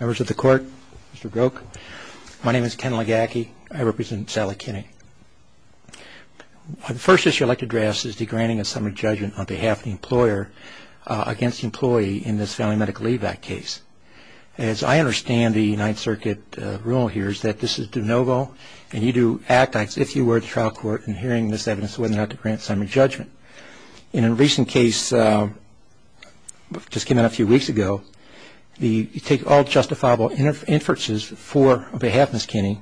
Members of the Court, Mr. Groke, my name is Ken Legacki. I represent Sally Kinney. The first issue I'd like to address is the granting of summary judgment on behalf of the employer against the employee in this Family Medical Leave Act case. As I understand the United Circuit rule here is that this is de novo and you do act as if you were at the trial court in hearing this evidence of whether or not to grant summary judgment. In a recent case that just came out a few weeks ago, you take all justifiable inferences for on behalf of Ms. Kinney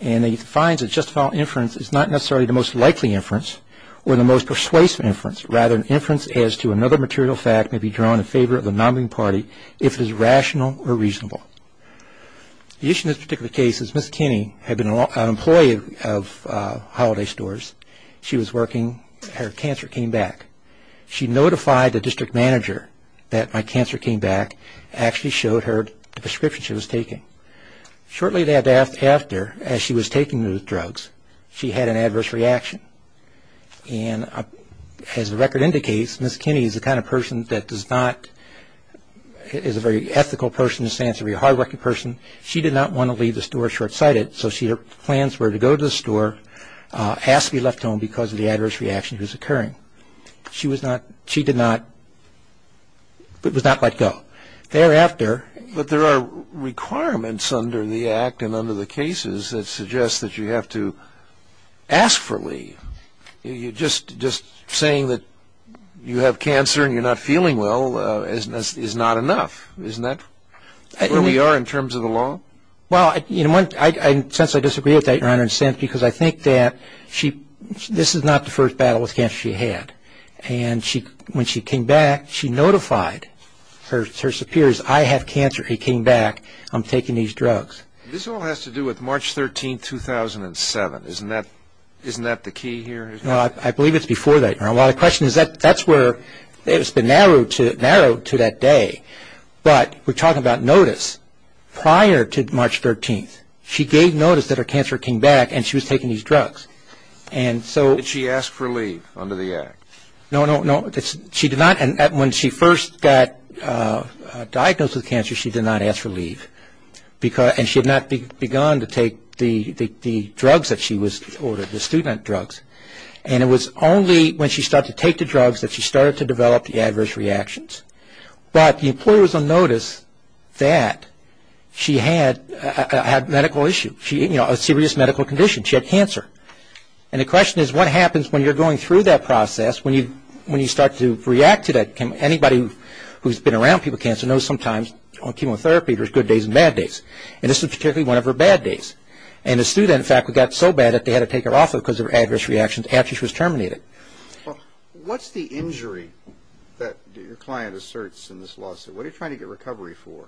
and you find that justifiable inference is not necessarily the most likely inference or the most persuasive inference, rather an inference as to another material fact may be drawn in favor of the nominating party if it is rational or reasonable. The issue in this particular case is Ms. Kinney had been an employee of Holiday Stores. She was working. Her cancer came back. She notified the district manager that my cancer came back and actually showed her the prescription she was taking. Shortly thereafter, as she was taking the drugs, she had an adverse reaction. And as the record indicates, Ms. Kinney is the kind of person that does not, is a very ethical person in the sense of a hardworking person. She did not want to leave the store short-sighted, so her plans were to go to the store, ask to be left home because of the adverse reaction that was occurring. She was not, she did not, was not let go. But there are requirements under the Act and under the cases that suggest that you have to ask for leave. Just saying that you have cancer and you're not feeling well is not enough. Isn't that where we are in terms of the law? Well, since I disagree with that, Your Honor, in a sense because I think that this is not the first battle with cancer she had. And when she came back, she notified her superiors, I have cancer, he came back, I'm taking these drugs. This all has to do with March 13th, 2007. Isn't that the key here? No, I believe it's before that, Your Honor. Well, the question is that's where it's been narrowed to that day. But we're talking about notice prior to March 13th. She gave notice that her cancer came back and she was taking these drugs. Did she ask for leave under the Act? No, no, no. She did not. And when she first got diagnosed with cancer, she did not ask for leave. And she had not begun to take the drugs that she was, or the student drugs. And it was only when she started to take the drugs that she started to develop the adverse reactions. But the employer was on notice that she had a medical issue, a serious medical condition. She had cancer. And the question is what happens when you're going through that process, when you start to react to that, anybody who's been around people with cancer knows sometimes on chemotherapy there's good days and bad days. And this was particularly one of her bad days. And the student, in fact, got so bad that they had to take her off of her because of her adverse reactions after she was terminated. What's the injury that your client asserts in this lawsuit? What are you trying to get recovery for?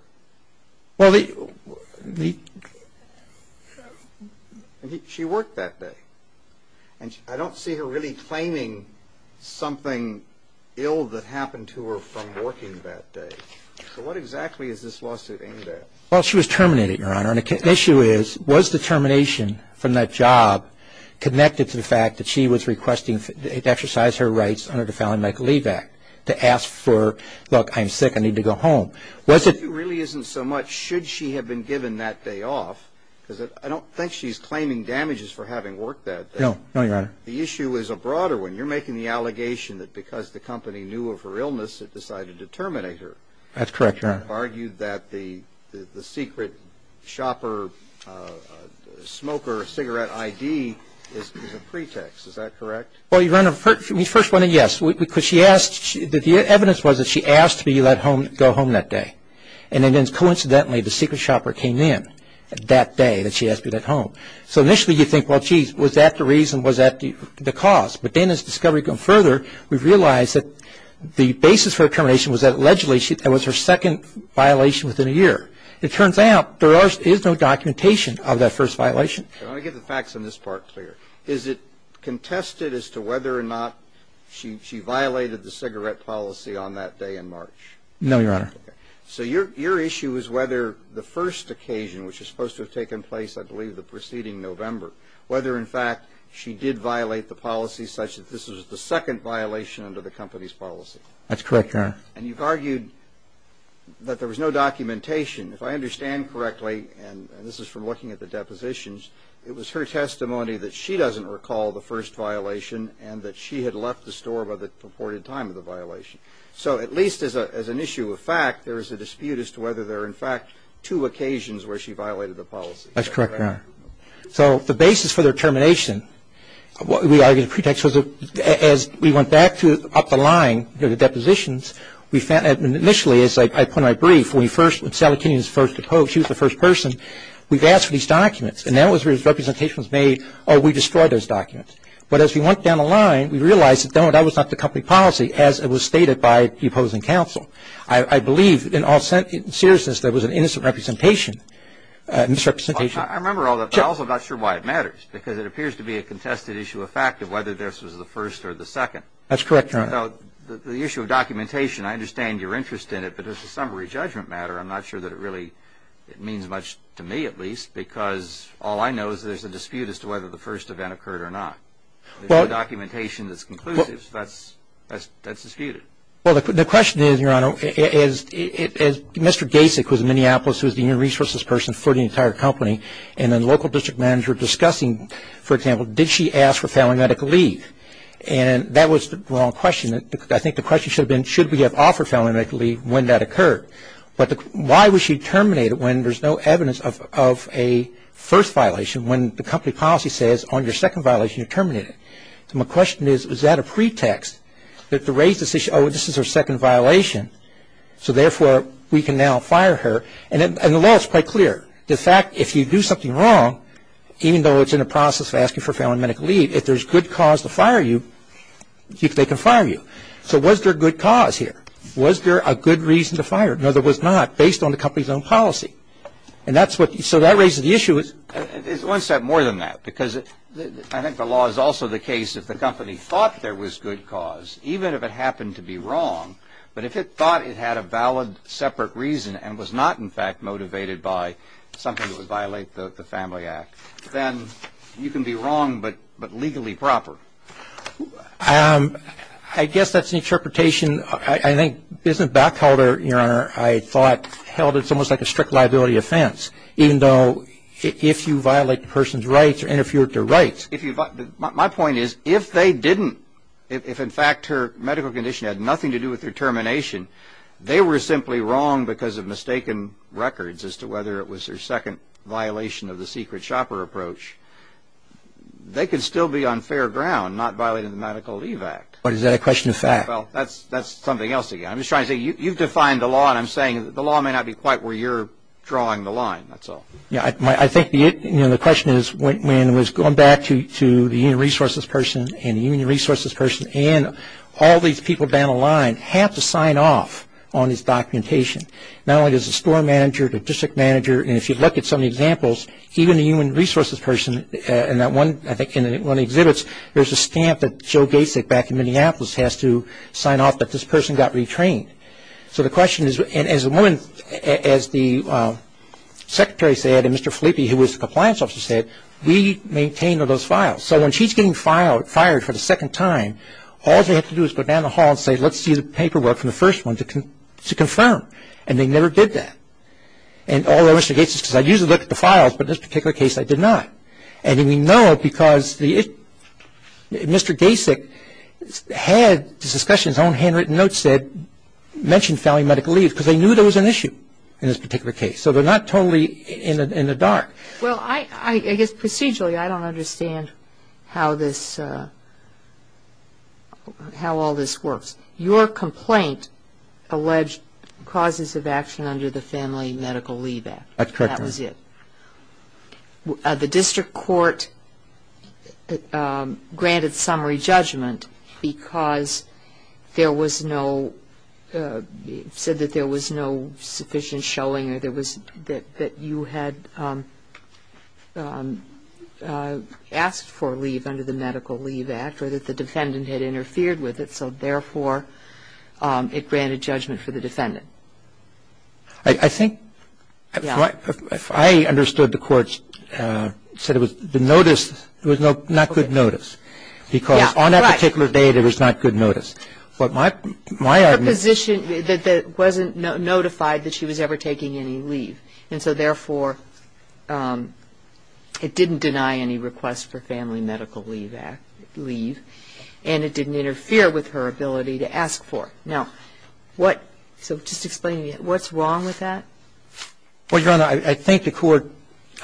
Well, she worked that day. And I don't see her really claiming something ill that happened to her from working that day. So what exactly is this lawsuit aimed at? Well, she was terminated, Your Honor. And the issue is, was the termination from that job connected to the fact that she was requesting to exercise her rights under the Family Medical Leave Act to ask for, look, I'm sick, I need to go home? It really isn't so much should she have been given that day off, because I don't think she's claiming damages for having worked that day. No. No, Your Honor. The issue is a broader one. You're making the allegation that because the company knew of her illness, it decided to terminate her. That's correct, Your Honor. And you've argued that the secret shopper, smoker, cigarette ID is a pretext. Is that correct? Well, Your Honor, we first wanted a yes. The evidence was that she asked to be let go home that day, and then coincidentally the secret shopper came in that day that she asked to be let home. So initially you think, well, geez, was that the reason, was that the cause? But then as discovery goes further, we've realized that the basis for her termination was that allegedly that was her second violation within a year. It turns out there is no documentation of that first violation. I want to get the facts on this part clear. Is it contested as to whether or not she violated the cigarette policy on that day in March? No, Your Honor. So your issue is whether the first occasion, which is supposed to have taken place I believe the preceding November, whether in fact she did violate the policy such that this was the second violation under the company's policy. That's correct, Your Honor. And you've argued that there was no documentation. If I understand correctly, and this is from looking at the depositions, it was her testimony that she doesn't recall the first violation and that she had left the store by the purported time of the violation. So at least as an issue of fact, there is a dispute as to whether there are in fact two occasions where she violated the policy. That's correct, Your Honor. So the basis for their termination, we argue, as we went back up the line to the depositions, initially as I put in my brief, when Sally Kinney was first deposed, she was the first person, we've asked for these documents, and that was where the representation was made, oh, we destroyed those documents. But as we went down the line, we realized that that was not the company policy as it was stated by the opposing counsel. I believe in all seriousness there was an innocent representation, misrepresentation. I remember all that, but I'm also not sure why it matters because it appears to be a contested issue of fact of whether this was the first or the second. That's correct, Your Honor. The issue of documentation, I understand your interest in it, but as a summary judgment matter, I'm not sure that it really means much to me at least because all I know is there's a dispute as to whether the first event occurred or not. There's no documentation that's conclusive, so that's disputed. Well, the question is, Your Honor, as Mr. Gasek was in Minneapolis who was the new resources person for the entire company, and then local district manager discussing, for example, did she ask for family medical leave, and that was the wrong question. I think the question should have been should we have offered family medical leave when that occurred, but why was she terminated when there's no evidence of a first violation when the company policy says on your second violation you're terminated. So my question is, is that a pretext that to raise this issue, oh, this is her second violation, so therefore we can now fire her, and the law is quite clear. The fact, if you do something wrong, even though it's in the process of asking for family medical leave, if there's good cause to fire you, they can fire you. So was there a good cause here? Was there a good reason to fire her? No, there was not, based on the company's own policy. So that raises the issue. It's one step more than that, because I think the law is also the case if the company thought there was good cause, even if it happened to be wrong, but if it thought it had a valid separate reason and was not, in fact, motivated by something that would violate the Family Act, then you can be wrong but legally proper. I guess that's an interpretation. I think business backholder, Your Honor, I thought held it almost like a strict liability offense, even though if you violate the person's rights or interfere with their rights. My point is, if they didn't, if in fact her medical condition had nothing to do with her termination, they were simply wrong because of mistaken records as to whether it was her second violation of the secret shopper approach, they could still be on fair ground, not violating the Medical Leave Act. But is that a question of fact? Well, that's something else again. I'm just trying to say, you've defined the law, and I'm saying the law may not be quite where you're drawing the line, that's all. I think the question is, when it was going back to the union resources person and the union resources person and all these people down the line have to sign off on this documentation. Not only does the store manager, the district manager, and if you look at some of the examples, even the union resources person in that one, I think in one of the exhibits, there's a stamp that Joe Gacic back in Minneapolis has to sign off that this person got retrained. So the question is, and as the woman, as the secretary said and Mr. Filippi, who was the compliance officer said, we maintain all those files. So when she's getting fired for the second time, all they have to do is go down the hall and say, let's see the paperwork from the first one to confirm. And they never did that. And although Mr. Gacic said, I usually look at the files, but in this particular case I did not. And we know it because Mr. Gacic had a discussion in his own handwritten notes that mentioned family medical leave, because they knew there was an issue in this particular case. So they're not totally in the dark. Well, I guess procedurally I don't understand how this, how all this works. Your complaint alleged causes of action under the Family Medical Leave Act. That was it. The district court granted summary judgment because there was no, the defendant said that there was no sufficient showing or there was, that you had asked for a leave under the Medical Leave Act or that the defendant had interfered with it, so therefore it granted judgment for the defendant. I think if I understood the court, it said it was the notice, it was not good notice, because on that particular date, it was not good notice. But my argument is that it wasn't notified that she was ever taking any leave, and so therefore it didn't deny any request for family medical leave and it didn't interfere with her ability to ask for it. Now, what, so just explain to me, what's wrong with that? Well, Your Honor, I think the court,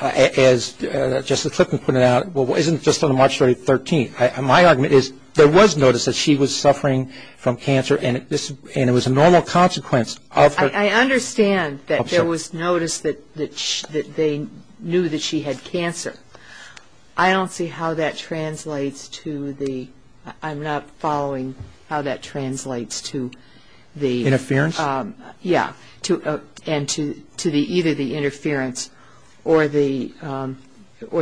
as Justice Clifton put it out, well, isn't just on March 30th, 13th. My argument is there was notice that she was suffering from cancer and it was a normal consequence of her. I understand that there was notice that they knew that she had cancer. I don't see how that translates to the, I'm not following how that translates to the. Interference? Yeah, and to either the interference or the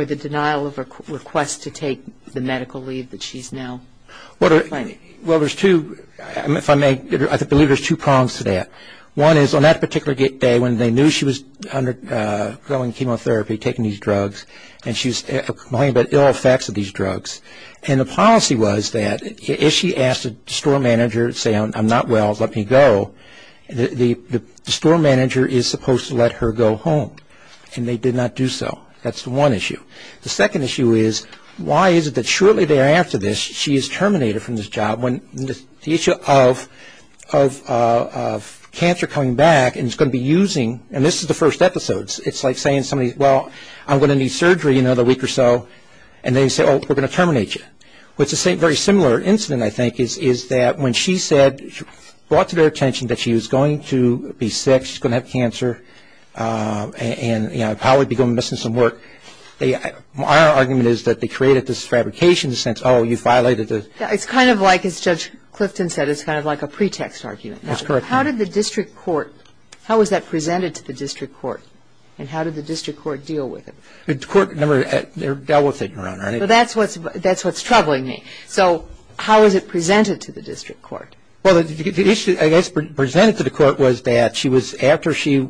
denial of request to take the medical leave that she's now claiming. Well, there's two, if I may, I believe there's two prongs to that. One is on that particular day when they knew she was undergoing chemotherapy, taking these drugs, and she was complaining about ill effects of these drugs, and the policy was that if she asked the store manager, say, I'm not well, let me go, the store manager is supposed to let her go home, and they did not do so. That's the one issue. The second issue is why is it that shortly thereafter this she is terminated from this job when the issue of cancer coming back and it's going to be using, and this is the first episode, it's like saying somebody, well, I'm going to need surgery in another week or so, and they say, oh, we're going to terminate you. What's a very similar incident, I think, is that when she said, brought to their attention that she was going to be sick, she was going to have cancer, and, you know, probably be going to be missing some work, my argument is that they created this fabrication in the sense, oh, you violated the. It's kind of like, as Judge Clifton said, it's kind of like a pretext argument. That's correct. How did the district court, how was that presented to the district court, and how did the district court deal with it? The court never dealt with it, Your Honor. Well, that's what's troubling me. So how was it presented to the district court? Well, the issue, I guess, presented to the court was that she was, after she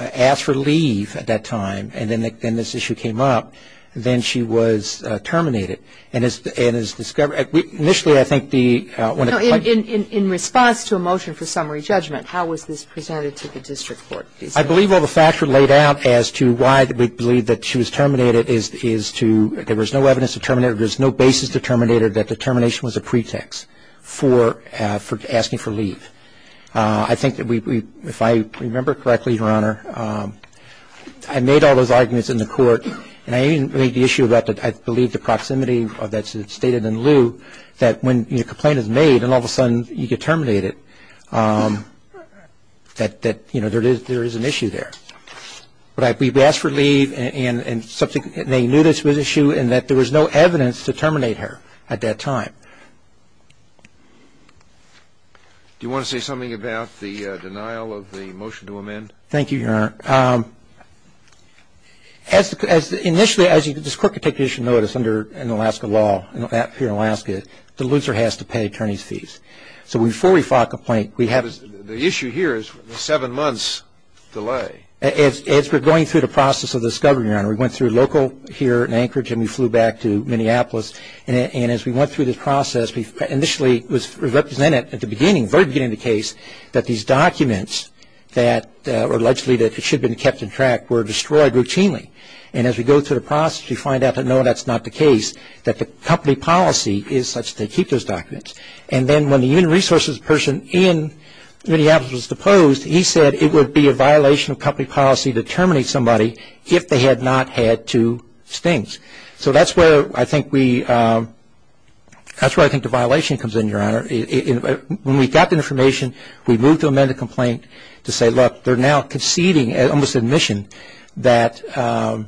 asked for leave at that time and then this issue came up, then she was terminated. And as discovered, initially, I think the No, in response to a motion for summary judgment, how was this presented to the district court? I believe all the facts were laid out as to why we believe that she was terminated is to, there was no evidence to terminate her, there was no basis to terminate her, that the termination was a pretext for asking for leave. I think that we, if I remember correctly, Your Honor, I made all those arguments in the court, and I even made the issue about, I believe, the proximity that's stated in lieu, that when a complaint is made and all of a sudden you get terminated, that, you know, there is an issue there. But we asked for leave and they knew this was an issue and that there was no evidence to terminate her at that time. Do you want to say something about the denial of the motion to amend? Thank you, Your Honor. Initially, as this court could take judicial notice under Alaska law, here in Alaska, the loser has to pay attorney's fees. So before we file a complaint, we have to. The issue here is the seven months delay. As we're going through the process of this, Governor, Your Honor, we went through local here in Anchorage and we flew back to Minneapolis. And as we went through this process, we initially represented at the beginning, very beginning of the case, that these documents that were allegedly that should have been kept in track were destroyed routinely. And as we go through the process, we find out that, no, that's not the case, that the company policy is such that they keep those documents. And then when the human resources person in Minneapolis was deposed, he said it would be a violation of company policy to terminate somebody if they had not had two stings. So that's where I think we – that's where I think the violation comes in, Your Honor. When we got the information, we moved to amend the complaint to say, look, they're now conceding almost admission that there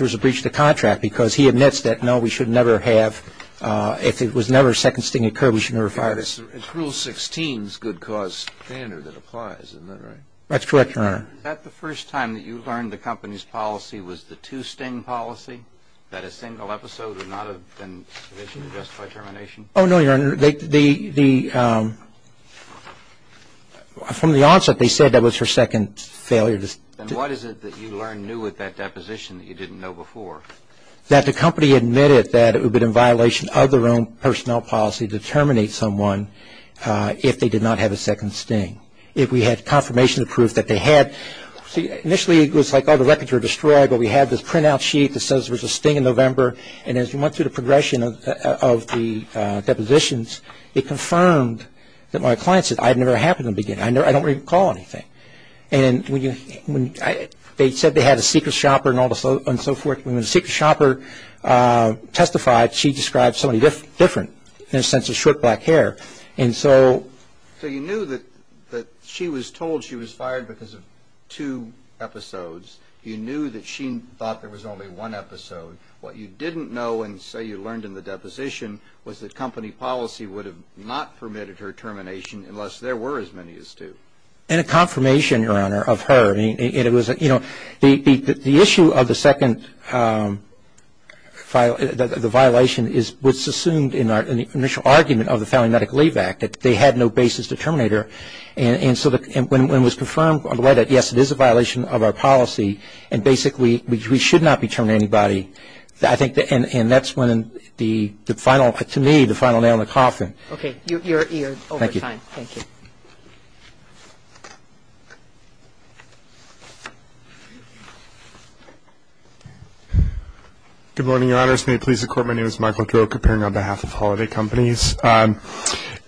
was a breach of the contract because he admits that, no, we should never have – if it was never a second sting occurred, we should never have fired us. It's Rule 16's good cause standard that applies, isn't that right? That's correct, Your Honor. Is that the first time that you learned the company's policy was the two-sting policy, that a single episode would not have been submission to justify termination? Oh, no, Your Honor. The – from the onset, they said that was her second failure. Then what is it that you learned new with that deposition that you didn't know before? That the company admitted that it would have been in violation of their own personnel policy to terminate someone if they did not have a second sting. If we had confirmation of proof that they had – see, initially it was like, oh, the records were destroyed, but we had this printout sheet that says there was a sting in November, and as we went through the progression of the depositions, it confirmed that my client said, I had never had one in the beginning. I don't recall anything. And when you – they said they had a secret shopper and all the – and so forth. When the secret shopper testified, she described somebody different in the sense of short black hair. And so – So you knew that she was told she was fired because of two episodes. You knew that she thought there was only one episode. What you didn't know and say you learned in the deposition was that company policy would have not permitted her termination unless there were as many as two. And it was a confirmation, Your Honor, of her. It was – you know, the issue of the second – the violation is what's assumed in our initial argument of the Family Medical Leave Act, that they had no basis to terminate her. And so when it was confirmed on the right, yes, it is a violation of our policy, and basically we should not be terminating anybody. I think – and that's when the final – to me, the final nail in the coffin. Okay. You're over time. Thank you. Thank you. Good morning, Your Honors. May it please the Court, my name is Michael Droke, appearing on behalf of Holiday Companies. And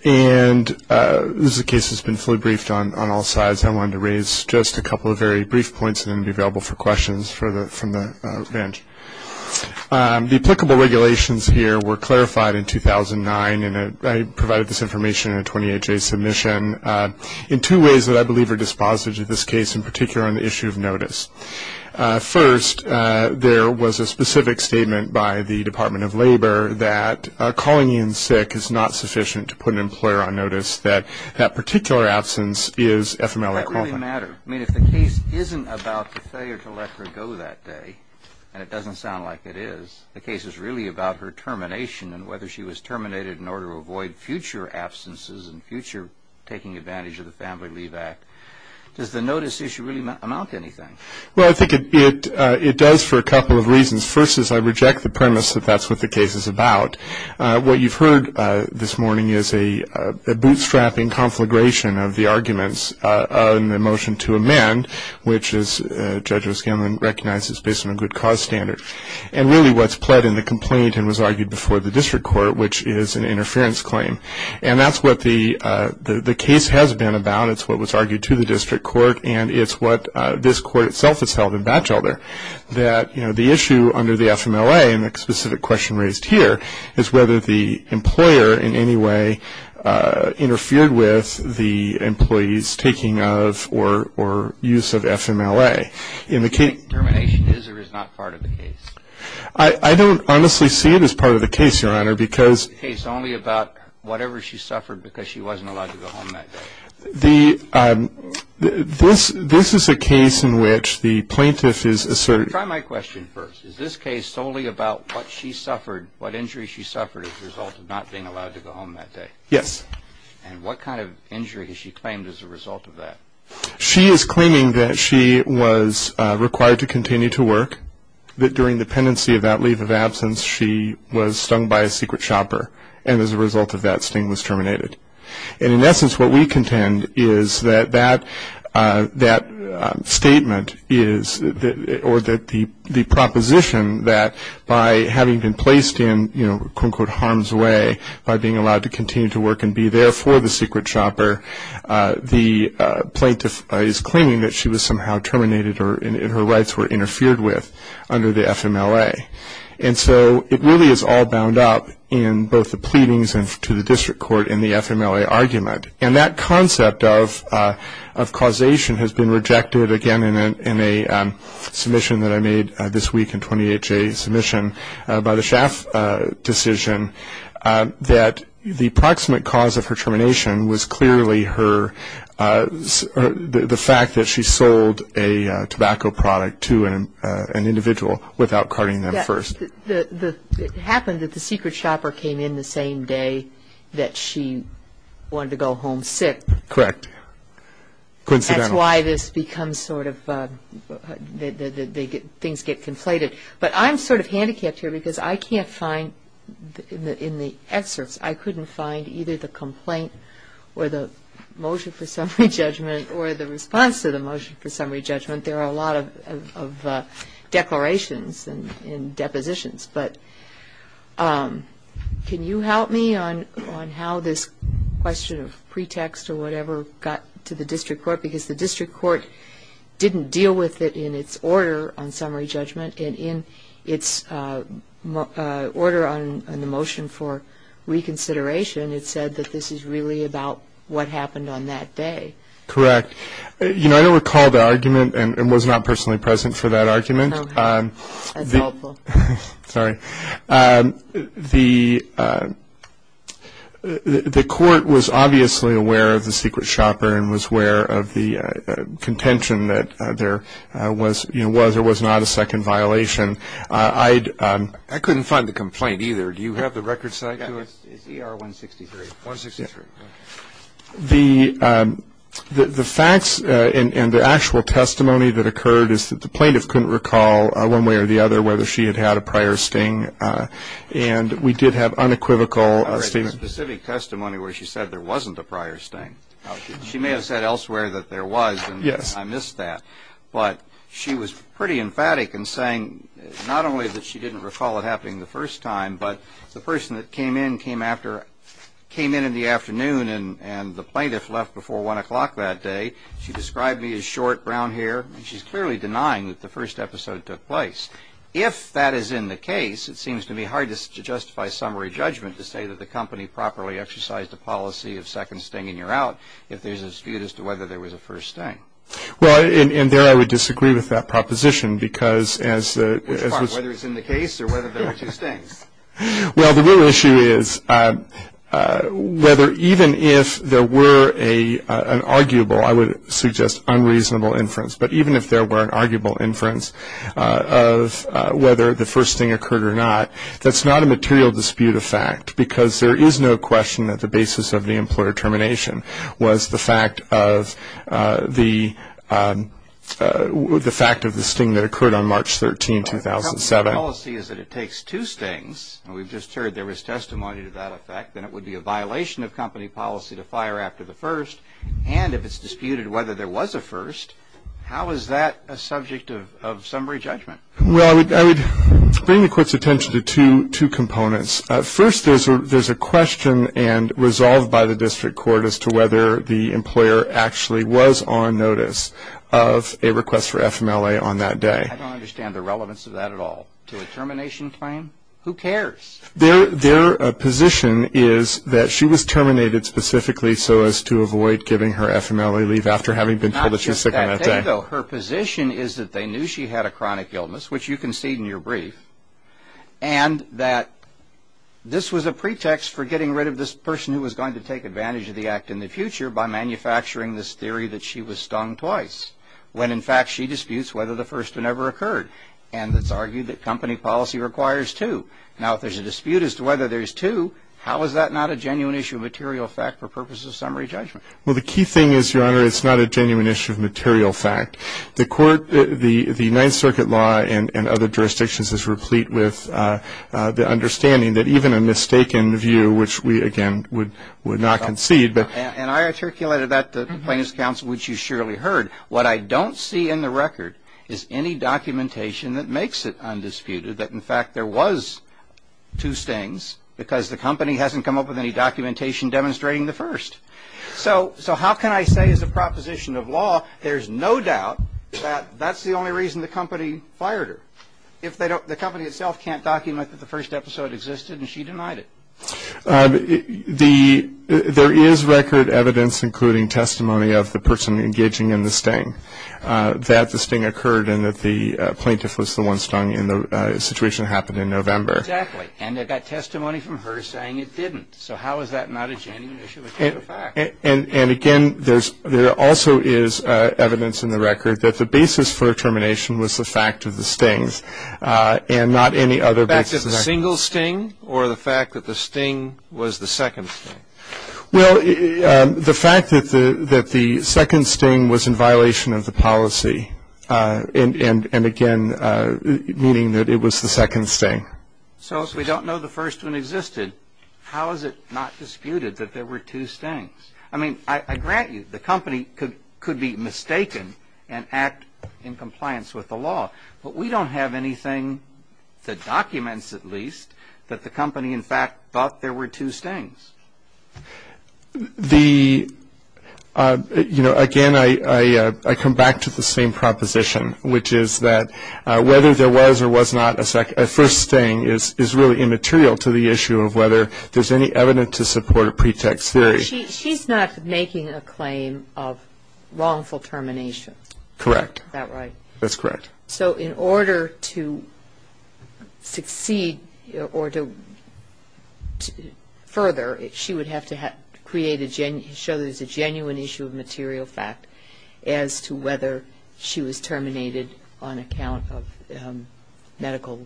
this is a case that's been fully briefed on all sides. I wanted to raise just a couple of very brief points, and then be available for questions from the bench. The applicable regulations here were clarified in 2009, and I provided this information in a 28-day submission, in two ways that I believe are dispositive to this case, in particular on the issue of notice. First, there was a specific statement by the Department of Labor that calling in sick is not sufficient to put an employer on notice, that that particular absence is FMLA-qualified. That really mattered. I mean, if the case isn't about the failure to let her go that day, and it doesn't sound like it is, the case is really about her termination, and whether she was terminated in order to avoid future absences and future taking advantage of the Family Leave Act. Does the notice issue really amount to anything? Well, I think it does for a couple of reasons. First is I reject the premise that that's what the case is about. What you've heard this morning is a bootstrapping conflagration of the arguments in the motion to amend, which, as Judge O'Scanlan recognizes, is based on a good cause standard. And really what's pled in the complaint and was argued before the district court, which is an interference claim. And that's what the case has been about. It's what was argued to the district court, and it's what this court itself has held in Batchelder, that the issue under the FMLA, and the specific question raised here, is whether the employer in any way interfered with the employee's taking of or use of FMLA. Termination is or is not part of the case? I don't honestly see it as part of the case, Your Honor, because... Is the case only about whatever she suffered because she wasn't allowed to go home that day? This is a case in which the plaintiff is... Try my question first. Is this case solely about what she suffered, what injury she suffered, as a result of not being allowed to go home that day? Yes. And what kind of injury has she claimed as a result of that? She is claiming that she was required to continue to work, that during the pendency of that leave of absence she was stung by a secret shopper, and as a result of that, Sting was terminated. And in essence, what we contend is that that statement is, or that the proposition that by having been placed in, you know, quote, unquote, harm's way, by being allowed to continue to work and be there for the secret shopper, the plaintiff is claiming that she was somehow terminated and her rights were interfered with under the FMLA. And so it really is all bound up in both the pleadings to the district court and the FMLA argument. And that concept of causation has been rejected, again, in a submission that I made this week, a 28-J submission by the SHAF decision, that the approximate cause of her termination was clearly her, the fact that she sold a tobacco product to an individual without carting them first. It happened that the secret shopper came in the same day that she wanted to go home sick. Correct. Coincidentally. That's why this becomes sort of, things get conflated. But I'm sort of handicapped here because I can't find, in the excerpts, I couldn't find either the complaint or the motion for summary judgment or the response to the motion for summary judgment. There are a lot of declarations and depositions. But can you help me on how this question of pretext or whatever got to the district court? Because the district court didn't deal with it in its order on summary judgment. And in its order on the motion for reconsideration, it said that this is really about what happened on that day. Correct. You know, I don't recall the argument and was not personally present for that argument. No. That's helpful. Sorry. The court was obviously aware of the secret shopper and was aware of the contention that there was or was not a second violation. I couldn't find the complaint either. Do you have the record side to it? It's ER 163. 163. The facts and the actual testimony that occurred is that the plaintiff couldn't recall, one way or the other, whether she had had a prior sting. And we did have unequivocal statements. There was specific testimony where she said there wasn't a prior sting. She may have said elsewhere that there was. Yes. I missed that. But she was pretty emphatic in saying not only that she didn't recall it happening the first time, but the person that came in came in in the afternoon and the plaintiff left before 1 o'clock that day. She described me as short, brown hair. And she's clearly denying that the first episode took place. If that is in the case, it seems to be hard to justify summary judgment to say that the company properly exercised a policy of second sting and you're out if there's a dispute as to whether there was a first sting. Well, and there I would disagree with that proposition because as the – Which part, whether it's in the case or whether there were two stings? Well, the real issue is whether even if there were an arguable, I would suggest unreasonable inference, but even if there were an arguable inference of whether the first sting occurred or not, that's not a material dispute of fact because there is no question that the basis of the employer termination was the fact of the sting that occurred on March 13, 2007. If the company policy is that it takes two stings, and we've just heard there was testimony to that effect, then it would be a violation of company policy to fire after the first, and if it's disputed whether there was a first, how is that a subject of summary judgment? Well, I would bring the court's attention to two components. First, there's a question resolved by the district court as to whether the employer actually was on notice of a request for FMLA on that day. I don't understand the relevance of that at all. To a termination claim? Who cares? Their position is that she was terminated specifically so as to avoid giving her FMLA leave after having been told that she was sick on that day. Not just that day, though. Her position is that they knew she had a chronic illness, which you concede in your brief, and that this was a pretext for getting rid of this person who was going to take advantage of the act in the future by manufacturing this theory that she was stung twice, when in fact she disputes whether the first one ever occurred, and it's argued that company policy requires two. Now, if there's a dispute as to whether there's two, how is that not a genuine issue of material fact for purposes of summary judgment? Well, the key thing is, Your Honor, it's not a genuine issue of material fact. The court, the Ninth Circuit law and other jurisdictions is replete with the understanding that even a mistaken view, which we, again, would not concede. And I articulated that to the plaintiffs' counsel, which you surely heard. What I don't see in the record is any documentation that makes it undisputed, that in fact there was two stings, because the company hasn't come up with any documentation demonstrating the first. So how can I say as a proposition of law there's no doubt that that's the only reason the company fired her, if the company itself can't document that the first episode existed and she denied it? There is record evidence, including testimony of the person engaging in the sting, that the sting occurred and that the plaintiff was the one stung in the situation that happened in November. Exactly. And they've got testimony from her saying it didn't. So how is that not a genuine issue of material fact? And, again, there also is evidence in the record that the basis for termination was the fact of the stings and not any other basis. The fact of the single sting or the fact that the sting was the second sting? Well, the fact that the second sting was in violation of the policy, and, again, meaning that it was the second sting. So if we don't know the first one existed, how is it not disputed that there were two stings? I mean, I grant you the company could be mistaken and act in compliance with the law, but we don't have anything that documents, at least, that the company, in fact, thought there were two stings. The, you know, again, I come back to the same proposition, which is that whether there was or was not a first sting is really immaterial to the issue of whether there's any evidence to support a pretext theory. She's not making a claim of wrongful termination. Correct. Is that right? That's correct. So in order to succeed or to further, she would have to create a genuine issue of material fact as to whether she was terminated on account of medical,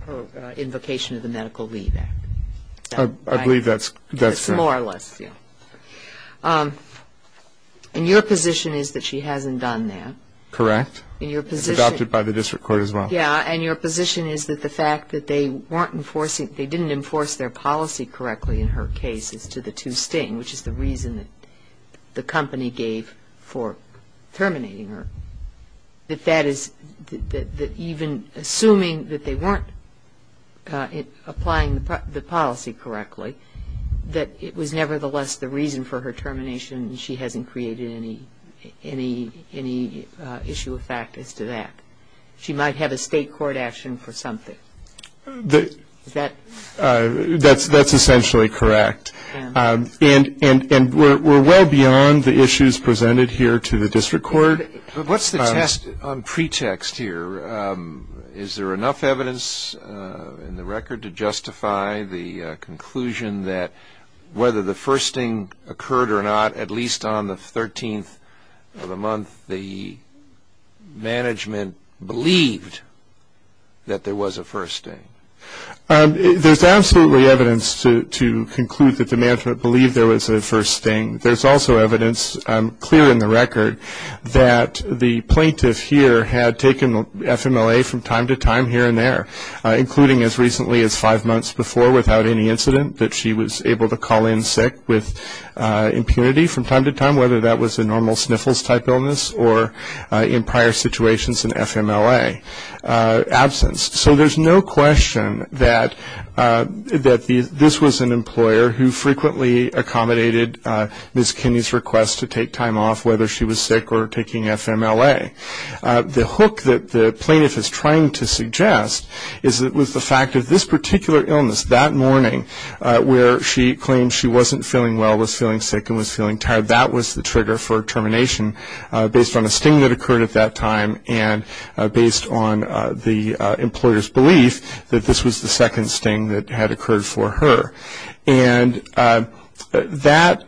her invocation of the Medical Leave Act. I believe that's correct. More or less, yeah. And your position is that she hasn't done that. Correct. Adopted by the district court as well. Yeah, and your position is that the fact that they weren't enforcing, they didn't enforce their policy correctly in her case as to the two sting, which is the reason that the company gave for terminating her, that that is, that even assuming that they weren't applying the policy correctly, that it was nevertheless the reason for her termination and she hasn't created any issue of fact as to that. She might have a state court action for something. Is that? That's essentially correct. And we're well beyond the issues presented here to the district court. What's the test on pretext here? Is there enough evidence in the record to justify the conclusion that whether the first sting occurred or not, at least on the 13th of the month, the management believed that there was a first sting? There's absolutely evidence to conclude that the management believed there was a first sting. There's also evidence, clear in the record, that the plaintiff here had taken FMLA from time to time here and there, including as recently as five months before without any incident, that she was able to call in sick with impunity from time to time, whether that was a normal sniffles-type illness or, in prior situations, an FMLA absence. So there's no question that this was an employer who frequently accommodated Ms. Kinney's request to take time off, whether she was sick or taking FMLA. The hook that the plaintiff is trying to suggest is that with the fact that this particular illness, that morning where she claimed she wasn't feeling well, was feeling sick, and was feeling tired, that was the trigger for termination based on a sting that occurred at that time and based on the employer's belief that this was the second sting that had occurred for her. And that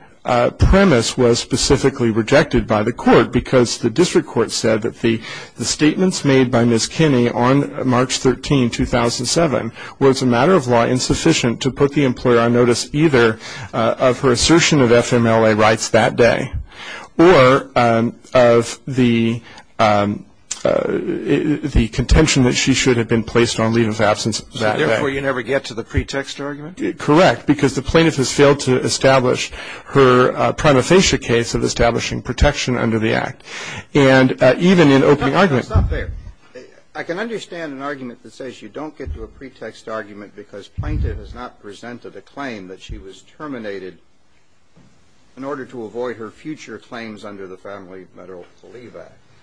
premise was specifically rejected by the court because the district court said that the statements made by Ms. Kinney on March 13, 2007, was a matter of law insufficient to put the employer on notice either of her assertion of FMLA rights that day or of the contention that she should have been placed on leave of absence that day. And so the plaintiff's argument is that this was an employer who frequently accommodated Ms. Kinney's request to take time off, whether that was a normal sniffles-type illness or an FMLA absence that occurred at that time. And so the plaintiff's argument is that this was a matter of law insufficient to put the employer on notice either of her assertion of FMLA rights that day or of the contention that she should have been placed on leave of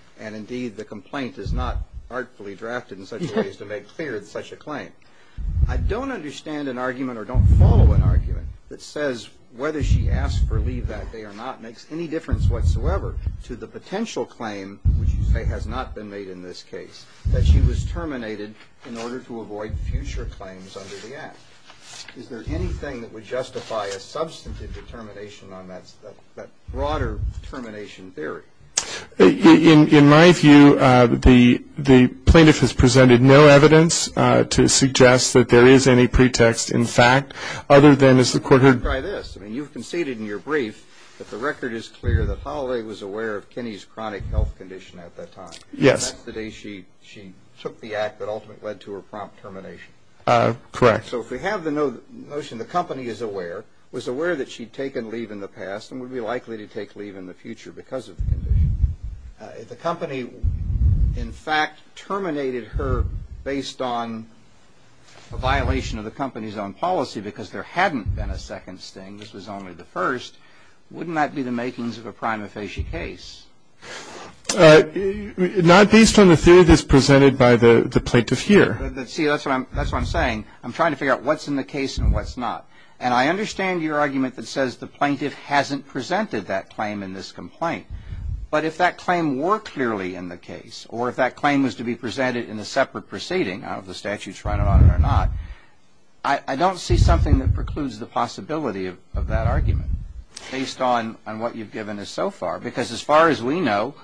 absence that day. I don't understand an argument or don't follow an argument that says whether she asked for leave that day or not makes any difference whatsoever to the potential claim, which you say has not been made in this case, that she was terminated in order to avoid future claims under the Act. Is there anything that would justify a substantive determination on that broader termination theory? In my view, the plaintiff has presented no evidence to suggest that there is any pretext, in fact, other than as the court heard. Let me try this. I mean, you've conceded in your brief that the record is clear that Holloway was aware of Kinney's chronic health condition at that time. Yes. And that's the day she took the Act that ultimately led to her prompt termination. Correct. So if we have the notion the company is aware, was aware that she'd taken leave in the past and would be likely to take leave in the future because of the condition, if the company, in fact, terminated her based on a violation of the company's own policy because there hadn't been a second sting, this was only the first, wouldn't that be the makings of a prima facie case? Not based on the theory that's presented by the plaintiff here. See, that's what I'm saying. I'm trying to figure out what's in the case and what's not. And I understand your argument that says the plaintiff hasn't presented that claim in this complaint. But if that claim were clearly in the case or if that claim was to be presented in a separate proceeding, I don't know if the statute's running on it or not, I don't see something that precludes the possibility of that argument based on what you've given us so far. Because as far as we know,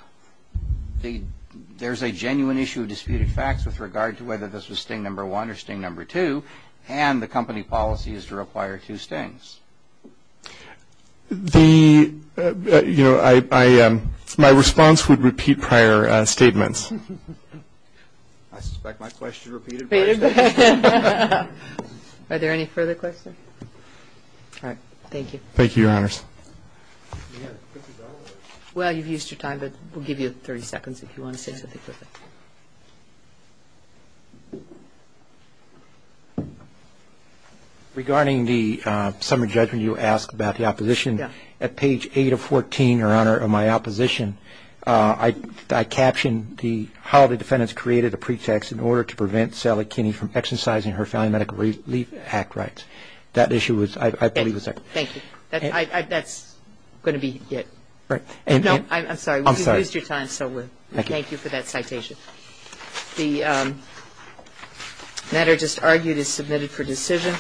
there's a genuine issue of disputed facts with regard to whether this was sting number one or sting number two, and the company policy is to require two stings. The, you know, my response would repeat prior statements. I suspect my question repeated prior statements. Are there any further questions? Thank you. Thank you, Your Honors. Well, you've used your time, but we'll give you 30 seconds if you want to say something further. Regarding the summary judgment you asked about the opposition, at page 8 of 14, Your Honor, on my opposition, I captioned the how the defendants created a pretext in order to prevent Sally Kinney from exercising her Family Medical Relief Act rights. That issue was, I believe, the second. Thank you. That's going to be it. Right. No, I'm sorry. I'm sorry. You've used your time, so we'll thank you for that citation. The matter just argued is submitted for decision.